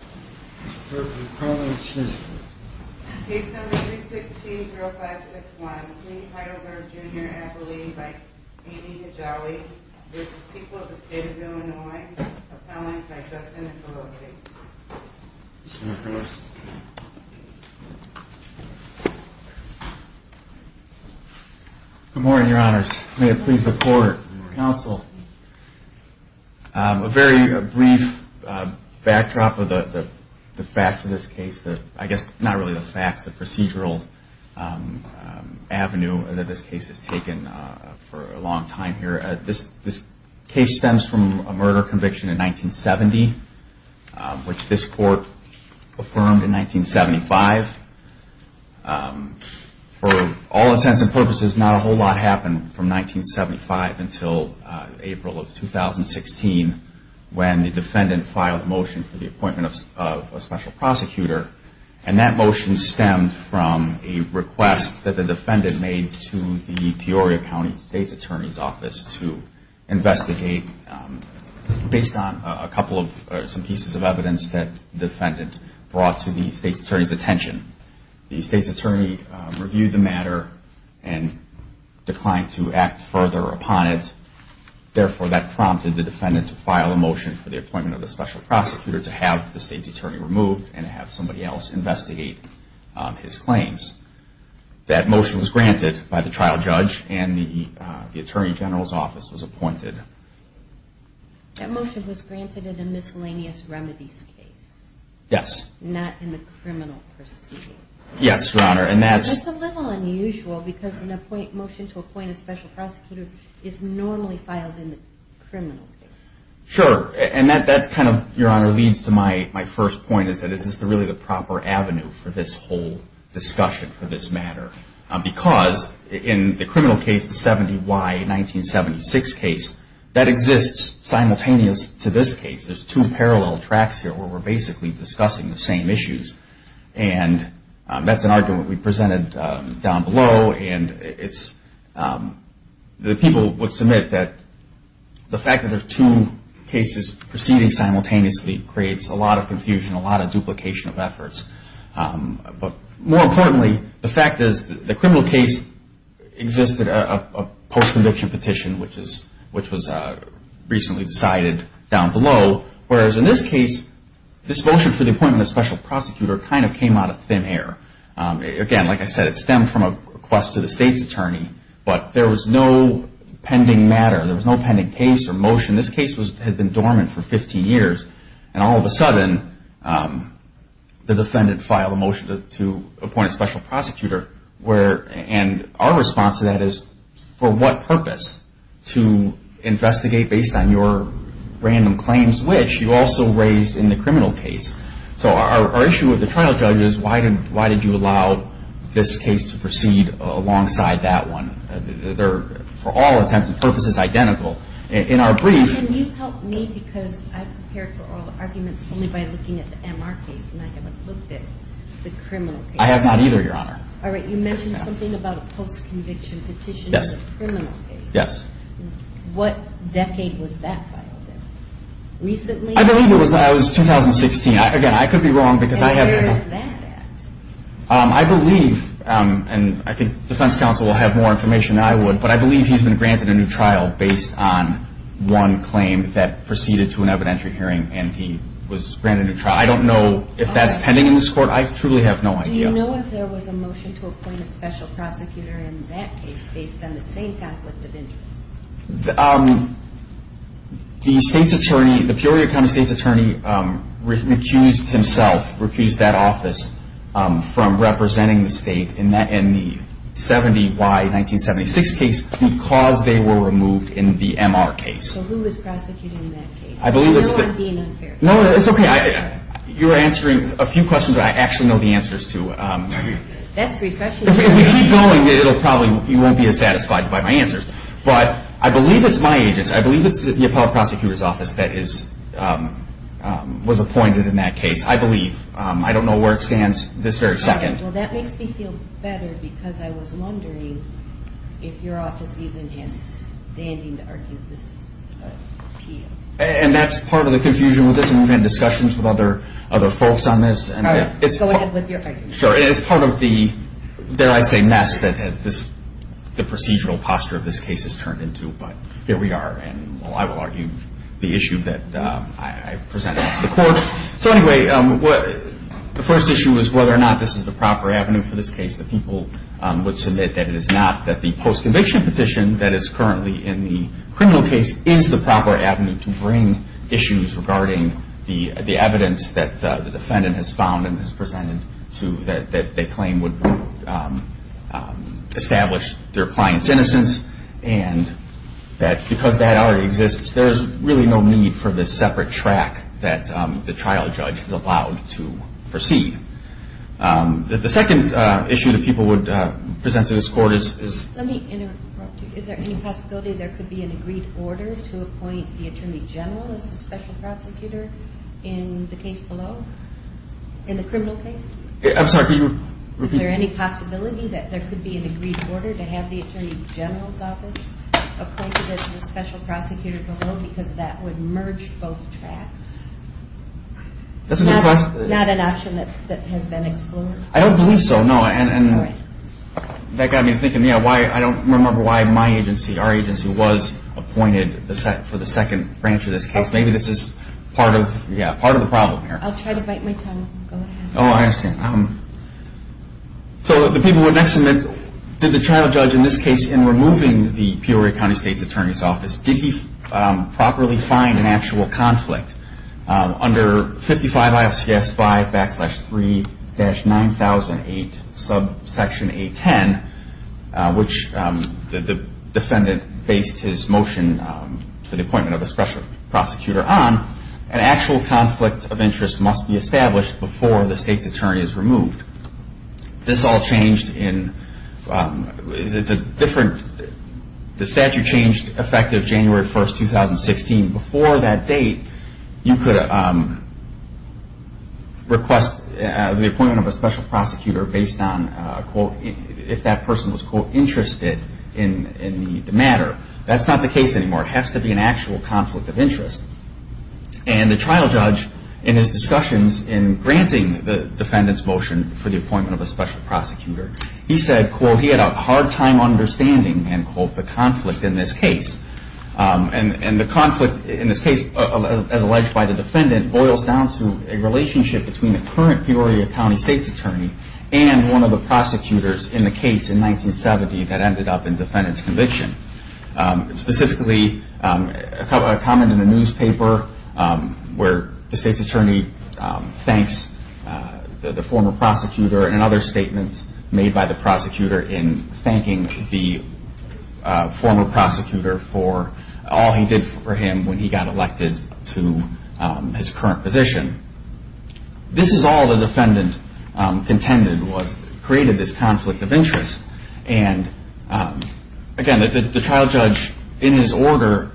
of the State of Illinois, appellants by Justin and Felocity. Good morning, your honors. May it please the court, counsel, a very brief backdrop of the facts of this case, I guess not really the facts, the procedural avenue that this case has taken for a long time here. This case stems from a murder conviction in 1970, which this court affirmed in 1975. For all intents and purposes, not a whole lot happened from 1975 until April of 2016 when the defendant filed a motion for the appointment of a special prosecutor. And that motion stemmed from a request that the defendant made to the Peoria County State's Attorney's Office to investigate based on a couple of pieces of evidence that the defendant brought to the State's Attorney's attention. The State's Attorney reviewed the matter and declined to act further upon it. Therefore, that prompted the defendant to file a motion for the appointment of a special prosecutor to have the State's Attorney removed and have somebody else investigate his claims. That motion was granted by the trial judge and the Attorney General's Office was appointed. That motion was granted in a miscellaneous remedies case? Yes. Not in the criminal proceeding? Yes, your honor. That's a little unusual because a motion to appoint a special prosecutor is normally filed in the criminal case. Sure. And that kind of, your honor, leads to my first point is that is this really the proper avenue for this whole discussion for this matter? Because in the criminal case, the 70-Y 1976 case, that exists simultaneous to this case. There's two parallel tracks here where we're basically discussing the same issues. And that's an argument we presented down below. And the people would submit that the fact that there's two cases proceeding simultaneously creates a lot of confusion, a lot of duplication of efforts. But more importantly, the fact is the criminal case existed a post-conviction petition, which was recently decided down below. Whereas in this case, this motion for the appointment of a special prosecutor kind of came out of thin air. Again, like I said, it stemmed from a request to the state's attorney. But there was no pending matter. There was no pending case or motion. This case had been dormant for 15 years. And all of a sudden, the defendant filed a motion to appoint a special prosecutor. And our response to that is, for what purpose? To investigate based on your random claims, which you also raised in the criminal case. So our issue with the trial judge is, why did you allow this case to proceed alongside that one? They're, for all intents and purposes, identical. In our brief — Can you help me? Because I prepared for all the arguments only by looking at the MR case, and I haven't looked at the criminal case. I have not either, Your Honor. All right. You mentioned something about a post-conviction petition in the criminal case. Yes. What decade was that filed in? Recently? I believe it was 2016. Again, I could be wrong because I haven't — And where is that at? I believe, and I think defense counsel will have more information than I would, but I believe he's been granted a new trial based on one claim that proceeded to an evidentiary hearing, and he was granted a new trial. I don't know if that's pending in this court. I truly have no idea. Do you know if there was a motion to appoint a special prosecutor in that case based on the same conflict of interest? The state's attorney, the Peoria County state's attorney, accused himself, refused that office from representing the state in the 70Y 1976 case because they were removed in the MR case. So who was prosecuting that case? I believe it's the — So I know I'm being unfair. No, it's okay. You're answering a few questions I actually know the answers to. That's refreshing. If we keep going, it'll probably — you won't be as satisfied by my answers. But I believe it's my agents. I believe it's the appellate prosecutor's office that was appointed in that case. I believe. I don't know where it stands this very second. Well, that makes me feel better because I was wondering if your office isn't standing to argue this appeal. And that's part of the confusion with this, and we've had discussions with other folks on this. All right. Go ahead with your argument. Sure. It's part of the, dare I say, mess that the procedural posture of this case has turned into. But here we are, and I will argue the issue that I presented to the court. So anyway, the first issue is whether or not this is the proper avenue for this case. The people would submit that it is not, that the post-conviction petition that is currently in the criminal case is the proper avenue to bring issues regarding the evidence that the defendant has found and has presented to that they claim would establish their client's innocence. And that because that already exists, there's really no need for this separate track that the trial judge is allowed to proceed. The second issue that people would present to this court is — Is it appropriate to appoint the attorney general as the special prosecutor in the case below, in the criminal case? I'm sorry, can you repeat? Is there any possibility that there could be an agreed order to have the attorney general's office appointed as the special prosecutor below because that would merge both tracks? That's a good question. Not an option that has been excluded? I don't believe so, no. All right. That got me thinking. I don't remember why my agency, our agency, was appointed for the second branch of this case. Maybe this is part of the problem here. I'll try to bite my tongue. Go ahead. Oh, I understand. So the people would next submit, did the trial judge in this case, in removing the Peoria County State's attorney's office, did he properly find an actual conflict under 55 IFCS 5 backslash 3-9008 subsection 810, which the defendant based his motion for the appointment of the special prosecutor on, an actual conflict of interest must be established before the state's attorney is removed. This all changed in — it's a different — the statute changed effective January 1st, 2016. Before that date, you could request the appointment of a special prosecutor based on, quote, if that person was, quote, interested in the matter. That's not the case anymore. It has to be an actual conflict of interest. And the trial judge, in his discussions in granting the defendant's motion for the appointment of a special prosecutor, he said, quote, he had a hard time understanding, end quote, the conflict in this case. And the conflict in this case, as alleged by the defendant, boils down to a relationship between the current Peoria County State's attorney and one of the prosecutors in the case in 1970 that ended up in defendant's conviction. Specifically, a comment in the newspaper where the state's attorney thanks the former prosecutor and another statement made by the prosecutor in thanking the former prosecutor for all he did for him when he got elected to his current position. This is all the defendant contended was — created this conflict of interest. And again, the trial judge, in his order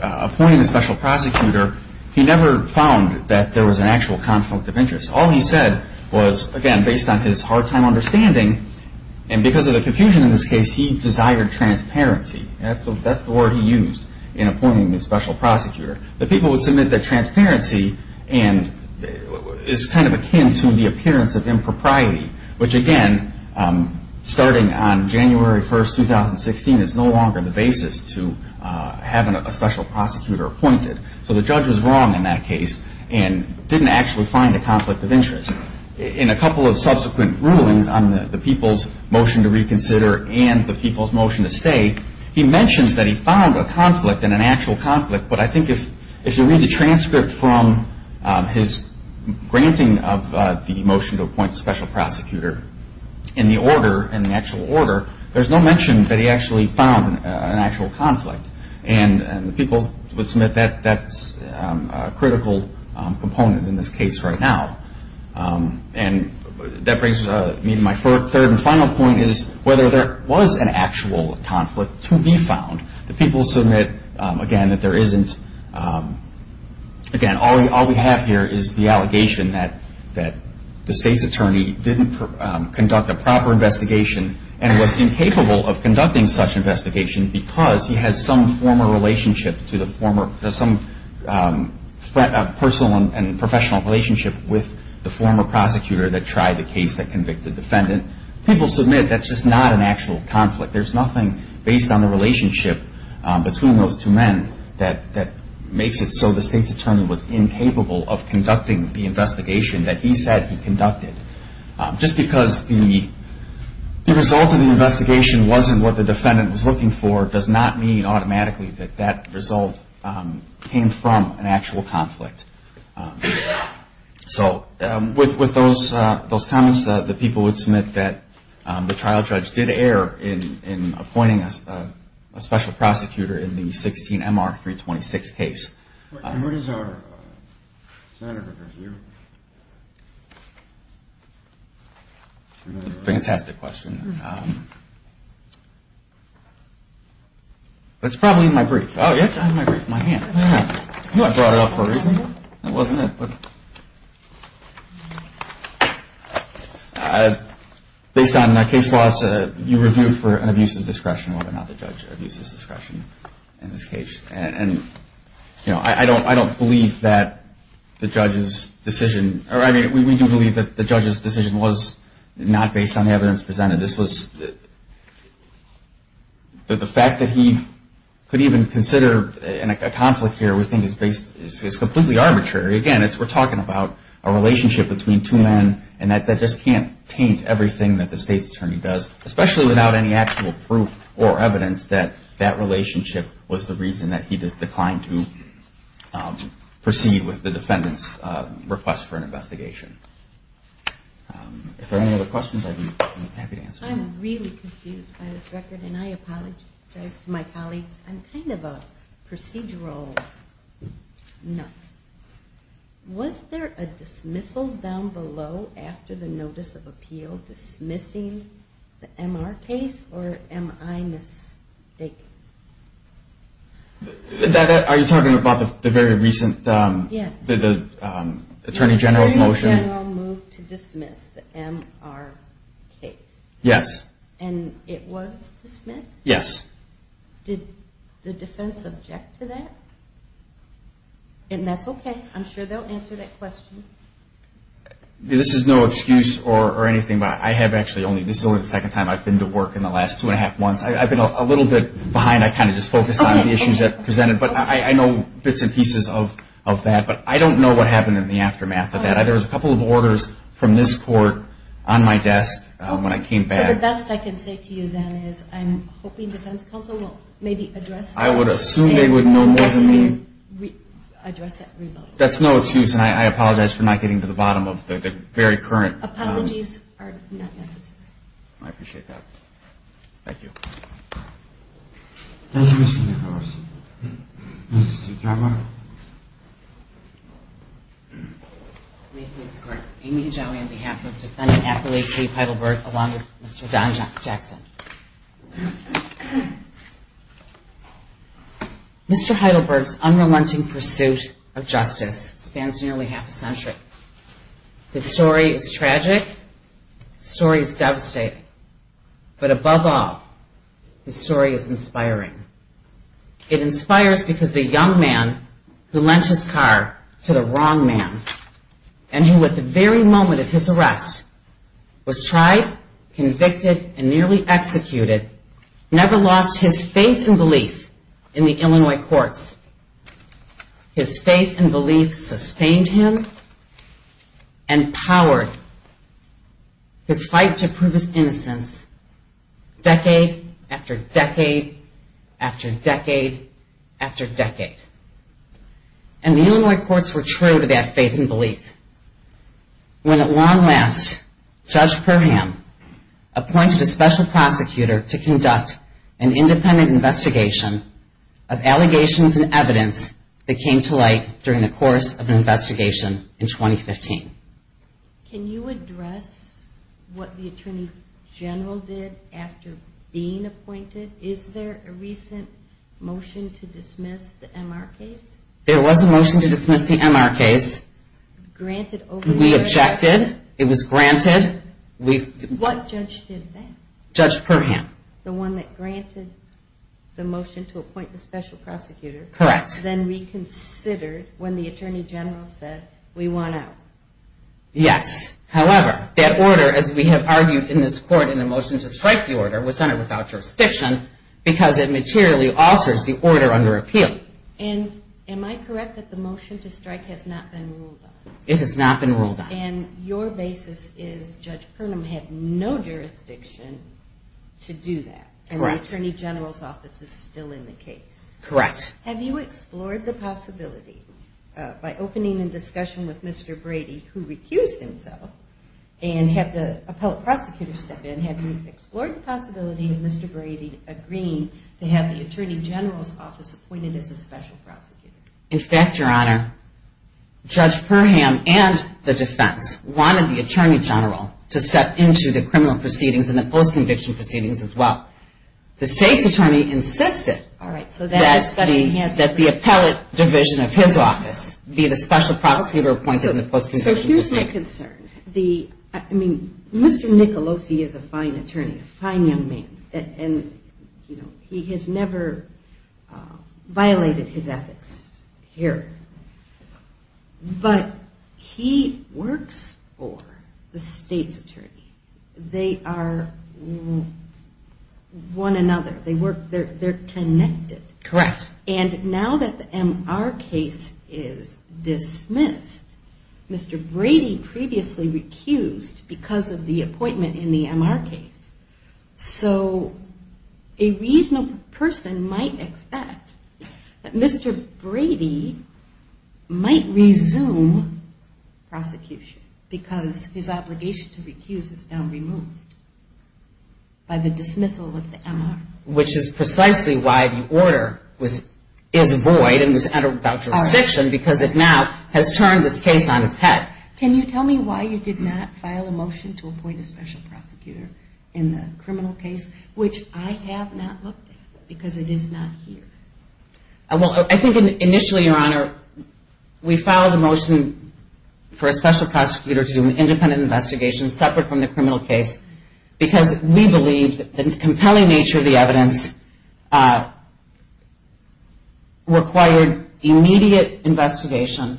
appointing a special prosecutor, he never found that there was an actual conflict of interest. All he said was, again, based on his hard time understanding, and because of the confusion in this case, he desired transparency. That's the word he used in appointing the special prosecutor. The people would submit that transparency is kind of akin to the appearance of impropriety, which again, starting on January 1, 2016, is no longer the basis to having a special prosecutor appointed. So the judge was wrong in that case and didn't actually find a conflict of interest. In a couple of subsequent rulings on the people's motion to reconsider and the people's motion to stay, he mentions that he found a conflict and an actual conflict, but I think if you read the transcript from his granting of the motion to appoint a special prosecutor, in the order, in the actual order, there's no mention that he actually found an actual conflict. And the people would submit that's a critical component in this case right now. And that brings me to my third and final point, is whether there was an actual conflict to be found. The people submit, again, that there isn't. Again, all we have here is the allegation that the state's attorney didn't conduct a proper investigation and was incapable of conducting such investigation because he had some former relationship to the former, some personal and professional relationship with the former prosecutor that tried the case that convicted the defendant. People submit that's just not an actual conflict. There's nothing based on the relationship between those two men that makes it so the state's attorney was incapable of conducting the investigation that he said he conducted. Just because the result of the investigation wasn't what the defendant was looking for, does not mean automatically that that result came from an actual conflict. So with those comments, the people would submit that the trial judge did err in appointing a special prosecutor in the 16MR-326 case. Where is our senator here? That's a fantastic question. That's probably in my brief. Oh, yes, I have my brief in my hand. I thought I brought it up for a reason. That wasn't it. Based on case laws, you review for an abuse of discretion whether or not the judge abuses discretion in this case. I don't believe that the judge's decision, or we do believe that the judge's decision was not based on the evidence presented. The fact that he could even consider a conflict here we think is completely arbitrary. Again, we're talking about a relationship between two men and that just can't taint everything that the state's attorney does, especially without any actual proof or evidence that that relationship was the reason that he declined to proceed with the defendant's request for an investigation. If there are any other questions, I'd be happy to answer them. I'm really confused by this record, and I apologize to my colleagues. I'm kind of a procedural nut. Was there a dismissal down below after the notice of appeal dismissing the MR case, or am I mistaken? Are you talking about the very recent Attorney General's motion? The Attorney General moved to dismiss the MR case. Yes. And it was dismissed? Yes. Did the defense object to that? And that's okay. I'm sure they'll answer that question. This is no excuse or anything, but I have actually only, this is only the second time I've been to work in the last two and a half months. I've been a little bit behind. I kind of just focused on the issues that presented, but I know bits and pieces of that. But I don't know what happened in the aftermath of that. There was a couple of orders from this court on my desk when I came back. So the best I can say to you then is I'm hoping defense counsel will maybe address that. I would assume they would know more than me. That's no excuse, and I apologize for not getting to the bottom of the very current. Apologies are not necessary. I appreciate that. Thank you. Thank you, Mr. McHarris. Mr. Trautmann. May it please the Court. Amy Hedjawi on behalf of Defendant Affiliate Chief Heidelberg along with Mr. Don Jackson. Mr. Heidelberg's unrelenting pursuit of justice spans nearly half a century. His story is tragic. His story is devastating. But above all, his story is inspiring. It inspires because the young man who lent his car to the wrong man and who at the very moment of his arrest was tried, convicted, and nearly executed never lost his faith and belief in the Illinois courts. His faith and belief sustained him and powered his fight to prove his innocence decade after decade after decade after decade. And the Illinois courts were true to that faith and belief when at long last Judge Perham appointed a special prosecutor to conduct an independent investigation of allegations and evidence that came to light during the course of an investigation in 2015. Can you address what the Attorney General did after being appointed? Is there a recent motion to dismiss the M.R. case? There was a motion to dismiss the M.R. case. We objected. It was granted. What judge did that? Judge Perham. The one that granted the motion to appoint the special prosecutor? Correct. And was then reconsidered when the Attorney General said we want out? Yes. However, that order as we have argued in this court in the motion to strike the order was sent without jurisdiction because it materially alters the order under appeal. And am I correct that the motion to strike has not been ruled on? It has not been ruled on. And your basis is Judge Perham had no jurisdiction to do that? Correct. And the Attorney General's office is still in the case? Correct. Have you explored the possibility by opening a discussion with Mr. Brady who recused himself and had the appellate prosecutor step in, have you explored the possibility of Mr. Brady agreeing to have the Attorney General's office appointed as a special prosecutor? In fact, Your Honor, Judge Perham and the defense wanted the Attorney General to step into the criminal proceedings and the post-conviction proceedings as well. The state's attorney insisted that the appellate division of his office be the special prosecutor appointed in the post-conviction proceedings. So here's my concern. I mean, Mr. Nicolosi is a fine attorney, a fine young man, and he has never violated his ethics here. But he works for the state's attorney. They are one another. They're connected. Correct. And now that the MR case is dismissed, Mr. Brady previously recused because of the appointment in the MR case. So a reasonable person might expect that Mr. Brady might resume prosecution because his obligation to recuse is now removed by the dismissal of the MR. Which is precisely why the order is void and was entered without jurisdiction because it now has turned this case on its head. Can you tell me why you did not file a motion to appoint a special prosecutor in the criminal case, which I have not looked at because it is not here? Well, I think initially, Your Honor, we filed a motion for a special prosecutor to do an independent investigation separate from the criminal case because we believe that the compelling nature of the evidence required immediate investigation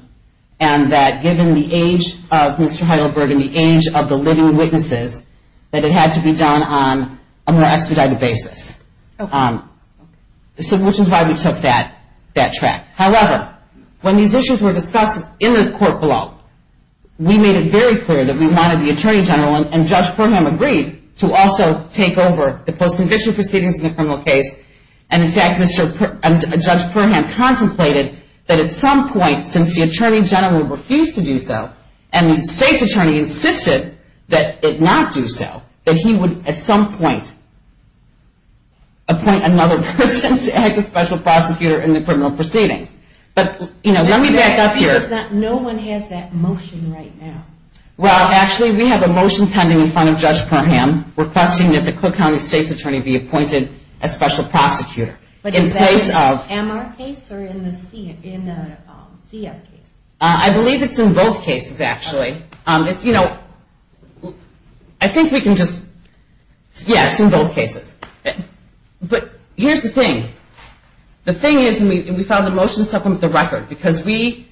and that given the age of Mr. Heidelberg and the age of the living witnesses, that it had to be done on a more expedited basis. Which is why we took that track. However, when these issues were discussed in the court below, we made it very clear that we wanted the Attorney General and Judge Perham agreed to also take over the post-conviction proceedings in the criminal case and, in fact, Judge Perham contemplated that at some point, since the Attorney General refused to do so and the State's Attorney insisted that it not do so, that he would at some point appoint another person to act as special prosecutor in the criminal proceedings. But, you know, let me back up here. No one has that motion right now. Well, actually, we have a motion pending in front of Judge Perham requesting that the Cook County State's Attorney be appointed as special prosecutor. But is that in the MR case or in the CF case? I believe it's in both cases, actually. It's, you know, I think we can just... Yes, in both cases. But here's the thing. The thing is, and we filed a motion to supplement the record, because we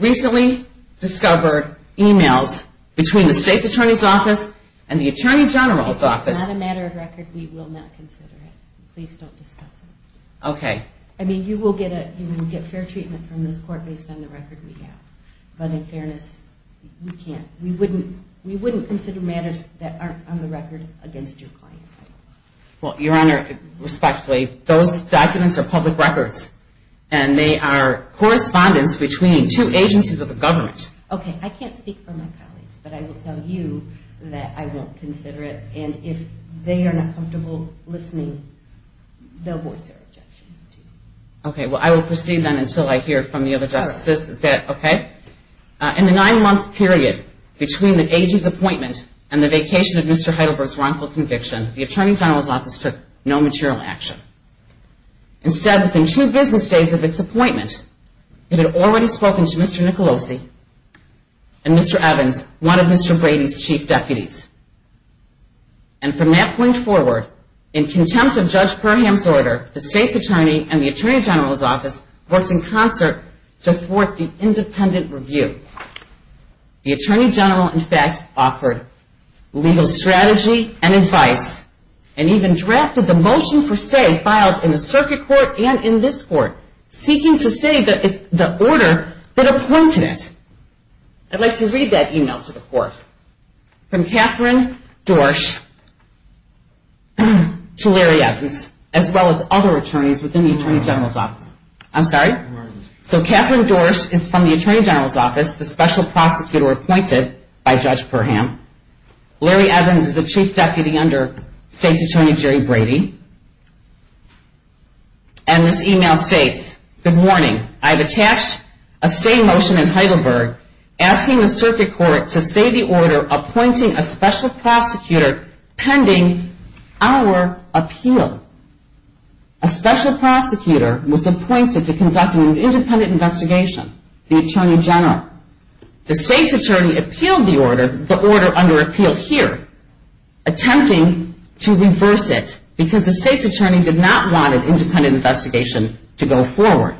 recently discovered emails between the State's Attorney's office and the Attorney General's office. If it's not a matter of record, we will not consider it. Please don't discuss it. Okay. I mean, you will get fair treatment from this court based on the record we have. But in fairness, we can't. We wouldn't consider matters that aren't on the record against your client. Well, Your Honor, respectfully, those documents are public records. And they are correspondence between two agencies of the government. Okay. I can't speak for my colleagues, but I will tell you that I won't consider it. And if they are not comfortable listening, they'll voice their objections to you. Okay. Well, I will proceed then until I hear from the other justices. Is that okay? In the nine-month period between the agency's appointment and the vacation of Mr. Heidelberg's wrongful conviction, the Attorney General's office took no material action. Instead, within two business days of its appointment, it had already spoken to Mr. Nicolosi and Mr. Evans, one of Mr. Brady's chief deputies. And from that point forward, in contempt of Judge Perham's order, the state's attorney and the Attorney General's office worked in concert to thwart the independent review. The Attorney General, in fact, offered legal strategy and advice and even drafted the motion for stay filed in the circuit court and in this court, seeking to stay the order that appointed it. I'd like to read that email to the court. From Catherine Dorsch to Larry Evans, as well as other attorneys within the Attorney General's office. I'm sorry? So Catherine Dorsch is from the Attorney General's office, the special prosecutor appointed by Judge Perham. Larry Evans is a chief deputy under State's Attorney Jerry Brady. And this email states, Good morning. I've attached a stay motion in Heidelberg asking the circuit court to stay the order appointing a special prosecutor pending our appeal. A special prosecutor was appointed to conduct an independent investigation. The Attorney General. The State's Attorney appealed the order, the order under appeal here, attempting to reverse it because the State's Attorney did not want an independent investigation to go forward.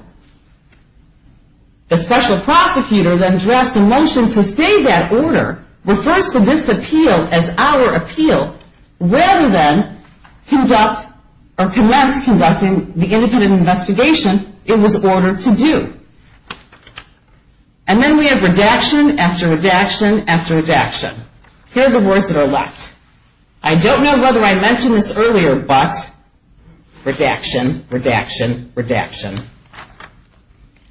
The special prosecutor then drafts a motion to stay that order, refers to this appeal as our appeal, rather than conduct or commence conducting the independent investigation it was ordered to do. And then we have redaction after redaction after redaction. Here are the words that are left. I don't know whether I mentioned this earlier, but redaction, redaction, redaction.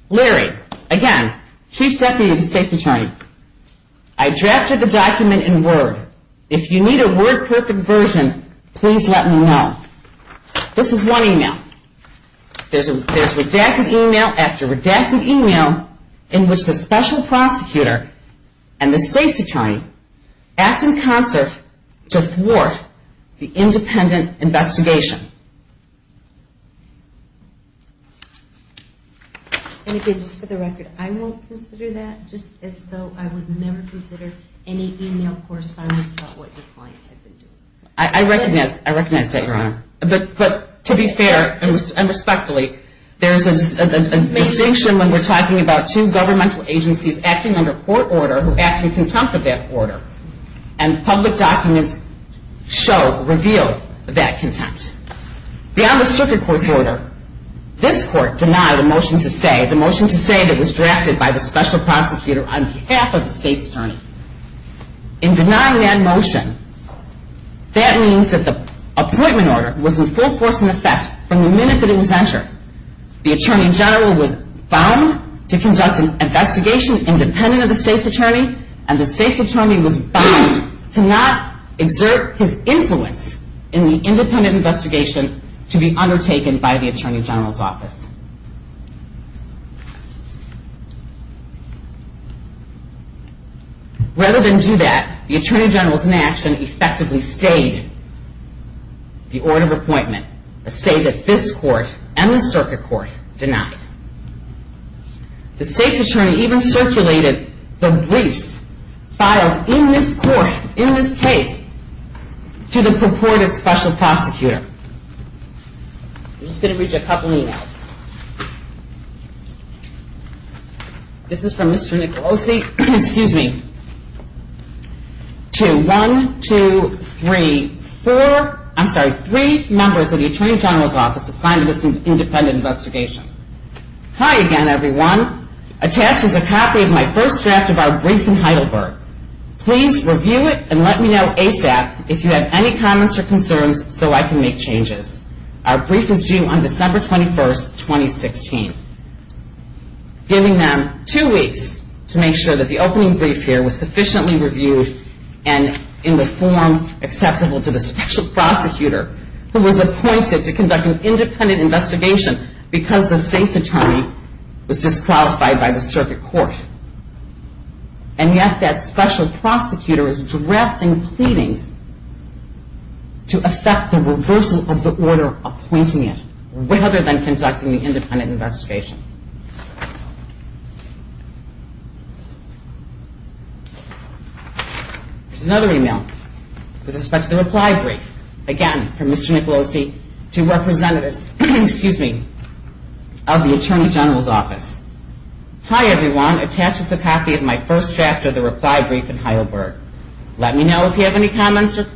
Larry, again, chief deputy of the State's Attorney. I drafted the document in Word. If you need a Word perfect version, please let me know. This is one email. There's redaction email after redaction email in which the special prosecutor and the State's Attorney act in concert to thwart the independent investigation. And again, just for the record, I won't consider that, just as though I would never consider any email correspondence about what your client has been doing. I recognize that, Your Honor. But to be fair and respectfully, there's a distinction when we're talking about two governmental agencies acting under court order who act in contempt of that order, and public documents show, reveal that contempt. Beyond the circuit court's order, this court denied a motion to stay, the motion to stay that was drafted by the special prosecutor on behalf of the State's Attorney. In denying that motion, that means that the appointment order was in full force in effect from the minute that it was entered. The Attorney General was bound to conduct an investigation independent of the State's Attorney, and the State's Attorney was bound to not exert his influence in the independent investigation Rather than do that, the Attorney General's inaction effectively stayed the order of appointment, a state that this court and the circuit court denied. The State's Attorney even circulated the briefs filed in this court, in this case, to the purported special prosecutor. I'm just going to read you a couple emails. This is from Mr. Nicolosi, excuse me, to one, two, three, four, I'm sorry, three members of the Attorney General's office assigned to this independent investigation. Hi again, everyone. Attached is a copy of my first draft of our brief in Heidelberg. Please review it and let me know ASAP if you have any comments or concerns so I can make changes. Our brief is due on December 21, 2016. Giving them two weeks to make sure that the opening brief here was sufficiently reviewed and in the form acceptable to the special prosecutor who was appointed to conduct an independent investigation because the State's Attorney was disqualified by the circuit court. And yet that special prosecutor is drafting pleadings to affect the reversal of the order appointing it rather than conducting the independent investigation. Here's another email with respect to the reply brief. Again, from Mr. Nicolosi to representatives, excuse me, of the Attorney General's office. Hi, everyone. Attached is a copy of my first draft of the reply brief in Heidelberg. Let me know if you have any comments or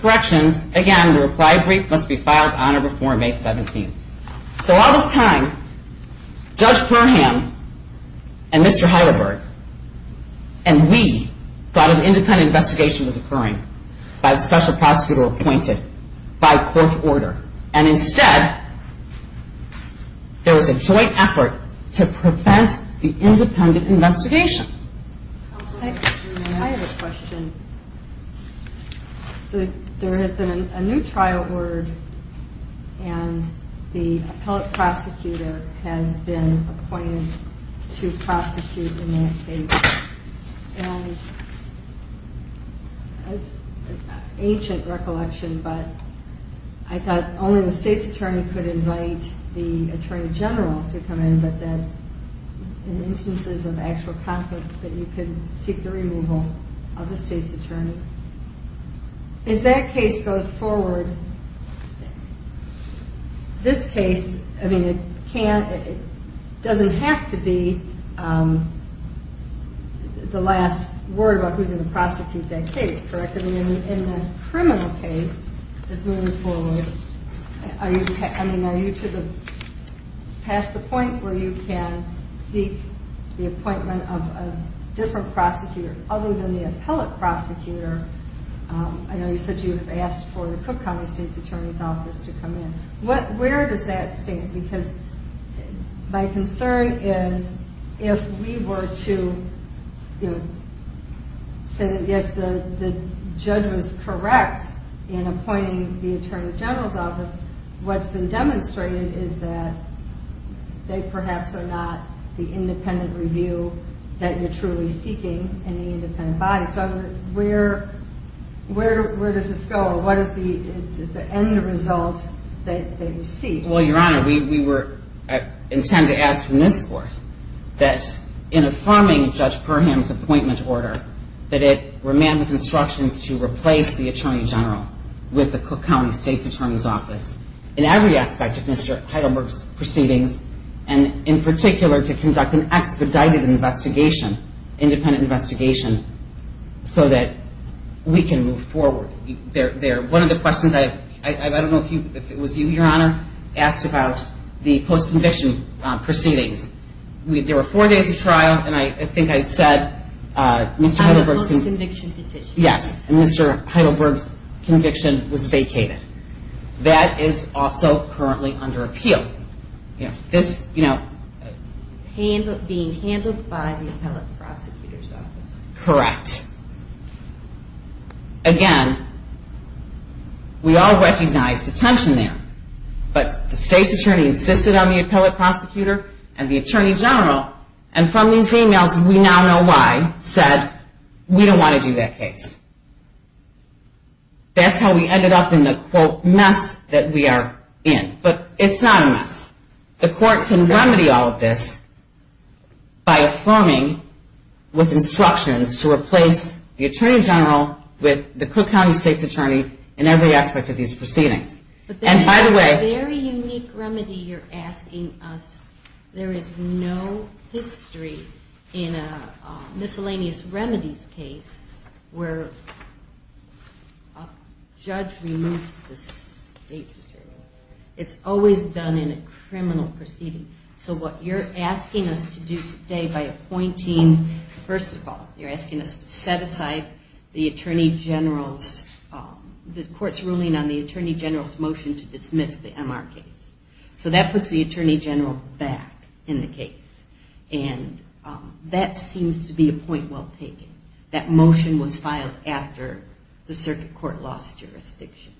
corrections. Again, the reply brief must be filed on or before May 17th. So all this time, Judge Perham and Mr. Heidelberg and we thought an independent investigation was occurring by the special prosecutor appointed by court order. And instead, there was a joint effort to prevent the independent investigation. I have a question. There has been a new trial word and the appellate prosecutor has been appointed to prosecute in that case. And it's an ancient recollection, but I thought only the State's Attorney could invite the Attorney General to come in, but that in instances of actual conflict that you could seek the removal of the State's Attorney. As that case goes forward, this case, I mean, it can't, it doesn't have to be the last word about who's going to prosecute that case, correct? I mean, in the criminal case that's moving forward, I mean, are you to the, past the point where you can seek the appointment of a different prosecutor other than the appellate prosecutor? I know you said you had asked for the Cook County State's Attorney's office to come in. Where does that stand? Because my concern is if we were to say that yes, the judge was correct in appointing the Attorney General's office, what's been demonstrated is that they perhaps are not the independent review that you're truly seeking in the independent body. So where does this go? What is the end result that you seek? Well, Your Honor, we were, intend to ask from this court that in affirming Judge Perham's appointment order, that it remain with instructions to replace the Attorney General with the Cook County State's Attorney's office in every aspect of Mr. Heidelberg's proceedings, and in particular to conduct an expedited investigation, independent investigation, so that we can move forward there. One of the questions, I don't know if it was you, Your Honor, asked about the post-conviction proceedings. There were four days of trial, and I think I said Mr. Heidelberg's... On the post-conviction petition. Yes, and Mr. Heidelberg's conviction was vacated. That is also currently under appeal. Being handled by the appellate prosecutor's office. Correct. Again, we all recognized the tension there, but the State's Attorney insisted on the appellate prosecutor and the Attorney General, and from these emails, we now know why, said we don't want to do that case. That's how we ended up in the, quote, mess that we are in. But it's not a mess. The court can remedy all of this by affirming with instructions to replace the Attorney General with the Cook County State's Attorney in every aspect of these proceedings. And by the way... But there is a very unique remedy you're asking us. There is no history in a miscellaneous remedies case where a judge removes the State's Attorney. It's always done in a criminal proceeding. So what you're asking us to do today by appointing... First of all, you're asking us to set aside the Attorney General's... The court's ruling on the Attorney General's motion to dismiss the MR case. So that puts the Attorney General back in the case. And that seems to be a point well taken. That motion was filed after the circuit court lost jurisdiction.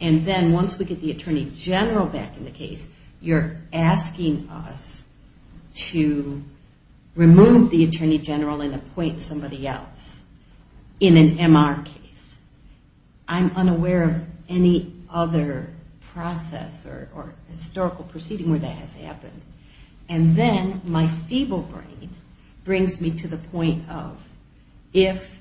And then once we get the Attorney General back in the case, you're asking us to remove the Attorney General and appoint somebody else in an MR case. I'm unaware of any other process or historical proceeding where that has happened. And then my feeble brain brings me to the point of if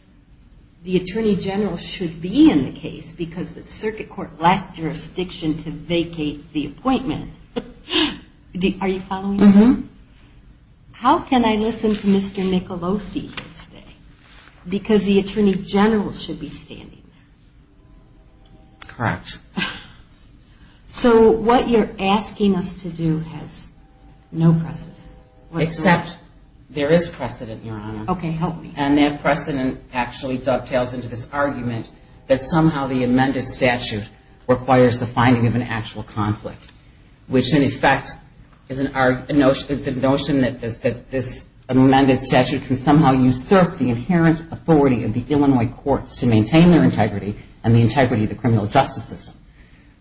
the Attorney General should be in the case because the circuit court lacked jurisdiction to vacate the appointment... Are you following me? Mm-hmm. How can I listen to Mr. Michelosi here today? Because the Attorney General should be standing there. Correct. So what you're asking us to do has no precedent. Except there is precedent, Your Honor. Okay, help me. And that precedent actually dovetails into this argument that somehow the amended statute requires the finding of an actual conflict, which in effect is the notion that this amended statute can somehow usurp the inherent authority of the Illinois courts to maintain their integrity and the integrity of the criminal justice system,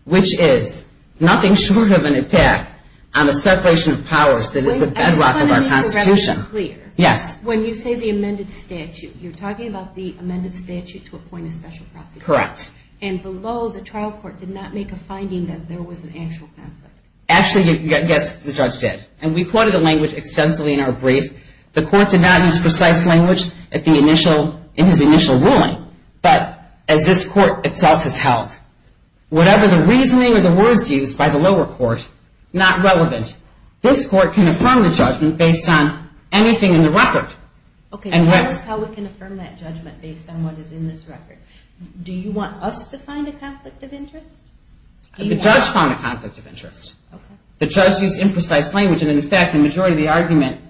which is nothing short of an attack on a separation of powers that is the bedrock of our Constitution. Just to be clear, when you say the amended statute, you're talking about the amended statute to appoint a special prosecutor. Correct. And below, the trial court did not make a finding that there was an actual conflict. Actually, yes, the judge did. And we quoted the language extensively in our brief. The court did not use precise language in his initial ruling. But as this court itself has held, whatever the reasoning or the words used by the lower court, not relevant. This court can affirm the judgment based on anything in the record. Okay, tell us how we can affirm that judgment based on what is in this record. Do you want us to find a conflict of interest? The judge found a conflict of interest. Okay. The judge used imprecise language, and in fact, the majority of the argument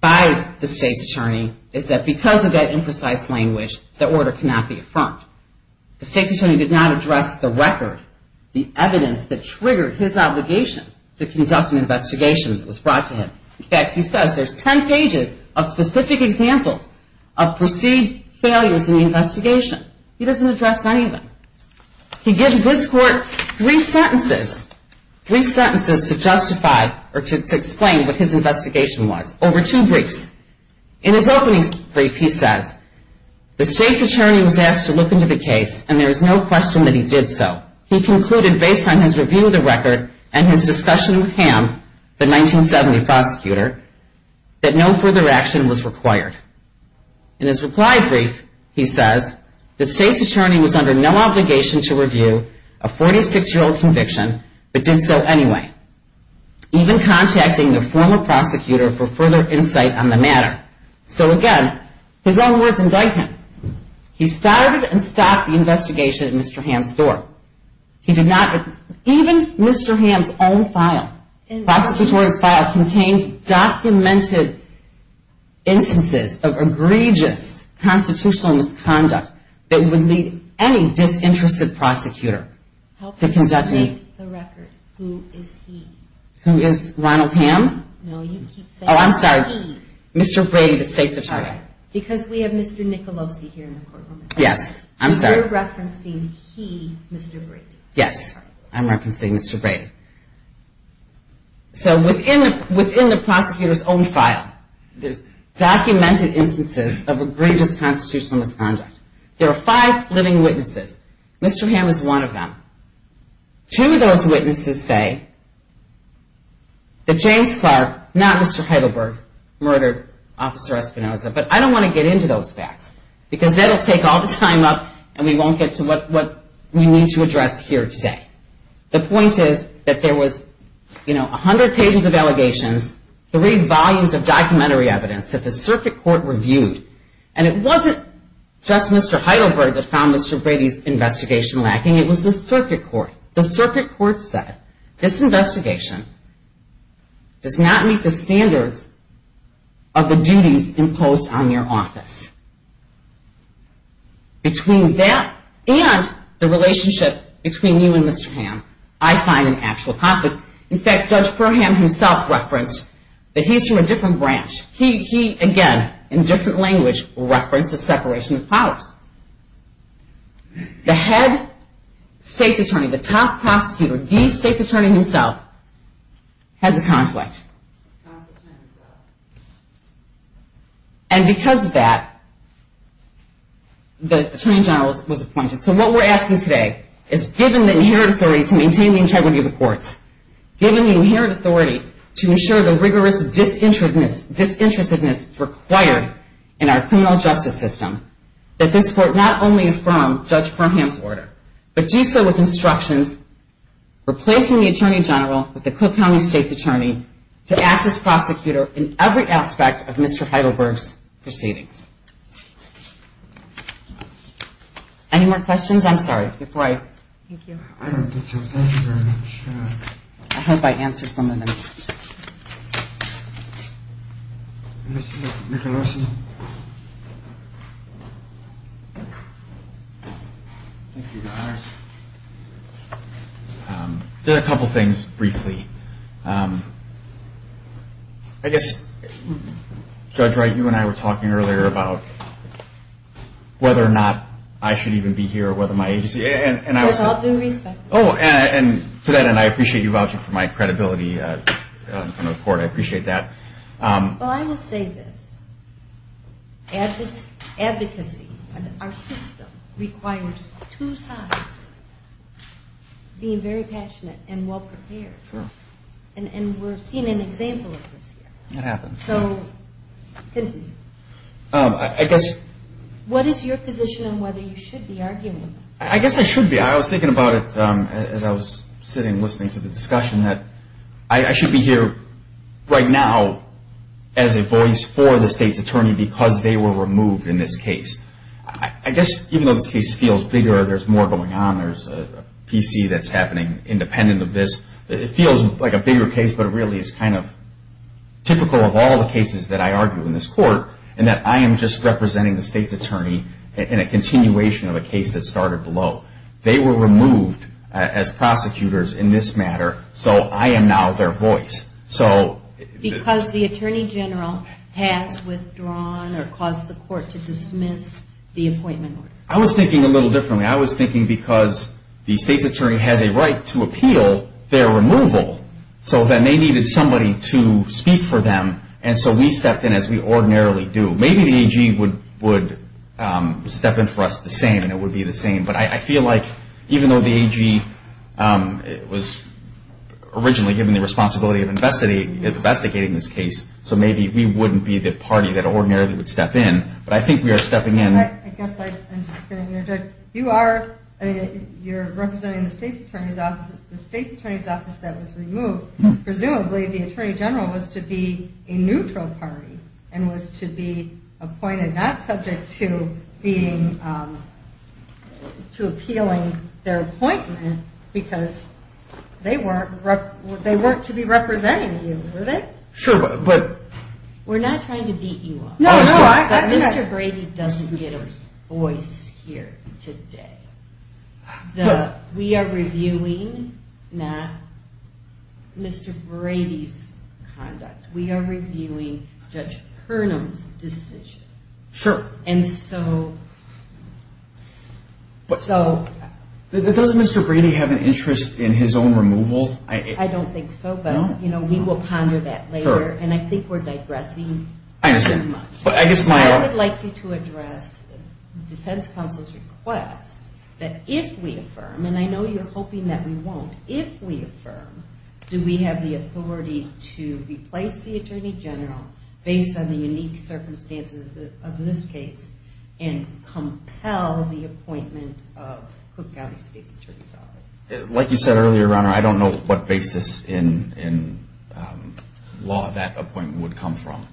by the state's attorney is that because of that imprecise language, the order cannot be affirmed. The state's attorney did not address the record, the evidence that triggered his obligation to conduct an investigation that was brought to him. In fact, he says there's 10 pages of specific examples of perceived failures in the investigation. He doesn't address any of them. He gives this court three sentences, three sentences to justify or to explain what his investigation was, over two briefs. In his opening brief, he says, The state's attorney was asked to look into the case, and there is no question that he did so. He concluded, based on his review of the record and his discussion with Ham, the 1970 prosecutor, that no further action was required. In his reply brief, he says, The state's attorney was under no obligation to review a 46-year-old conviction, but did so anyway, even contacting the former prosecutor for further insight on the matter. So again, his own words indict him. He started and stopped the investigation at Mr. Ham's door. Even Mr. Ham's own file, prosecutorial file, contains documented instances of egregious constitutional misconduct that would lead any disinterested prosecutor to conduct an investigation. Who is he? Who is Ronald Ham? No, you keep saying he. Oh, I'm sorry. Mr. Brady, the state's attorney. Because we have Mr. Nicolosi here in the courtroom. Yes, I'm sorry. You're referencing he, Mr. Brady. Yes, I'm referencing Mr. Brady. So within the prosecutor's own file, there's documented instances of egregious constitutional misconduct. There are five living witnesses. Mr. Ham is one of them. Two of those witnesses say that James Clark, not Mr. Heidelberg, murdered Officer Espinoza. But I don't want to get into those facts. Because that will take all the time up and we won't get to what we need to address here today. The point is that there was, you know, 100 pages of allegations, three volumes of documentary evidence that the circuit court reviewed. And it wasn't just Mr. Heidelberg that found Mr. Brady's investigation lacking. It was the circuit court. The circuit court said this investigation does not meet the standards of the duties imposed on your office. Between that and the relationship between you and Mr. Ham, I find an actual conflict. In fact, Judge Perham himself referenced that he's from a different branch. He, again, in different language, referenced the separation of powers. The head state's attorney, the top prosecutor, the state's attorney himself, has a conflict. And because of that, the Attorney General was appointed. So what we're asking today is given the inherent authority to maintain the integrity of the courts, given the inherent authority to ensure the rigorous disinterestedness required in our criminal justice system, that this court not only affirm Judge Perham's order, but do so with instructions replacing the Attorney General with the Cook County State's Attorney to act as prosecutor in every aspect of Mr. Heidelberg's proceedings. Any more questions? I'm sorry. Before I... Thank you. I don't think so. Thank you very much. I hope I answered some of them. Thank you. Just a couple things briefly. I guess, Judge Wright, you and I were talking earlier about whether or not I should even be here or whether my agency... Yes, I'll do respect. Oh, and to that end, I appreciate you vouching for my credibility in front of the court. I appreciate that. Well, I will say this. Advocacy in our system requires two sides being very passionate and well-prepared. Sure. And we're seeing an example of this here. It happens. So continue. I guess... What is your position on whether you should be arguing this? I guess I should be. I was thinking about it as I was sitting listening to the discussion that I should be here right now as a voice for the State's Attorney because they were removed in this case. I guess even though this case feels bigger, there's more going on, there's a PC that's happening independent of this, it feels like a bigger case, but it really is kind of typical of all the cases that I argue in this court and that I am just representing the State's Attorney in a continuation of a case that started below. They were removed as prosecutors in this matter, so I am now their voice. Because the Attorney General has withdrawn or caused the court to dismiss the appointment order. I was thinking a little differently. I was thinking because the State's Attorney has a right to appeal their removal, so then they needed somebody to speak for them, and so we stepped in as we ordinarily do. Maybe the AG would step in for us the same and it would be the same, but I feel like even though the AG was originally given the responsibility of investigating this case, so maybe we wouldn't be the party that ordinarily would step in. But I think we are stepping in. I guess I'm just going to interject. You are representing the State's Attorney's Office. The State's Attorney's Office that was removed, presumably the Attorney General was to be a neutral party and was to be appointed not subject to appealing their appointment because they weren't to be representing you, were they? Sure, but... We're not trying to beat you up. No, no. Mr. Brady doesn't get a voice here today. We are reviewing not Mr. Brady's conduct. We are reviewing Judge Purnam's decision. Sure. And so... But... So... Doesn't Mr. Brady have an interest in his own removal? I don't think so, but we will ponder that later, and I think we're digressing too much. I would like you to address the defense counsel's request that if we affirm, and I know you're hoping that we won't, if we affirm, do we have the authority to replace the Attorney General based on the unique circumstances of this case and compel the appointment of Cook County State's Attorney's Office? Like you said earlier, Your Honor, I don't know what basis in law that appointment would come from.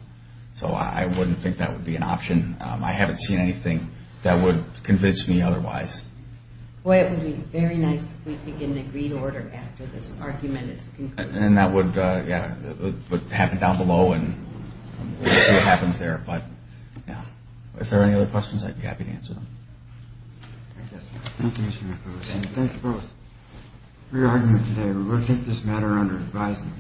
So I wouldn't think that would be an option. I haven't seen anything that would convince me otherwise. Well, it would be very nice if we could get an agreed order after this argument is concluded. And that would happen down below, and we'll see what happens there. But, yeah. If there are any other questions, I'd be happy to answer them. Thank you, Mr. McBride. Thank you both for your argument today. We will take this matter under advisement.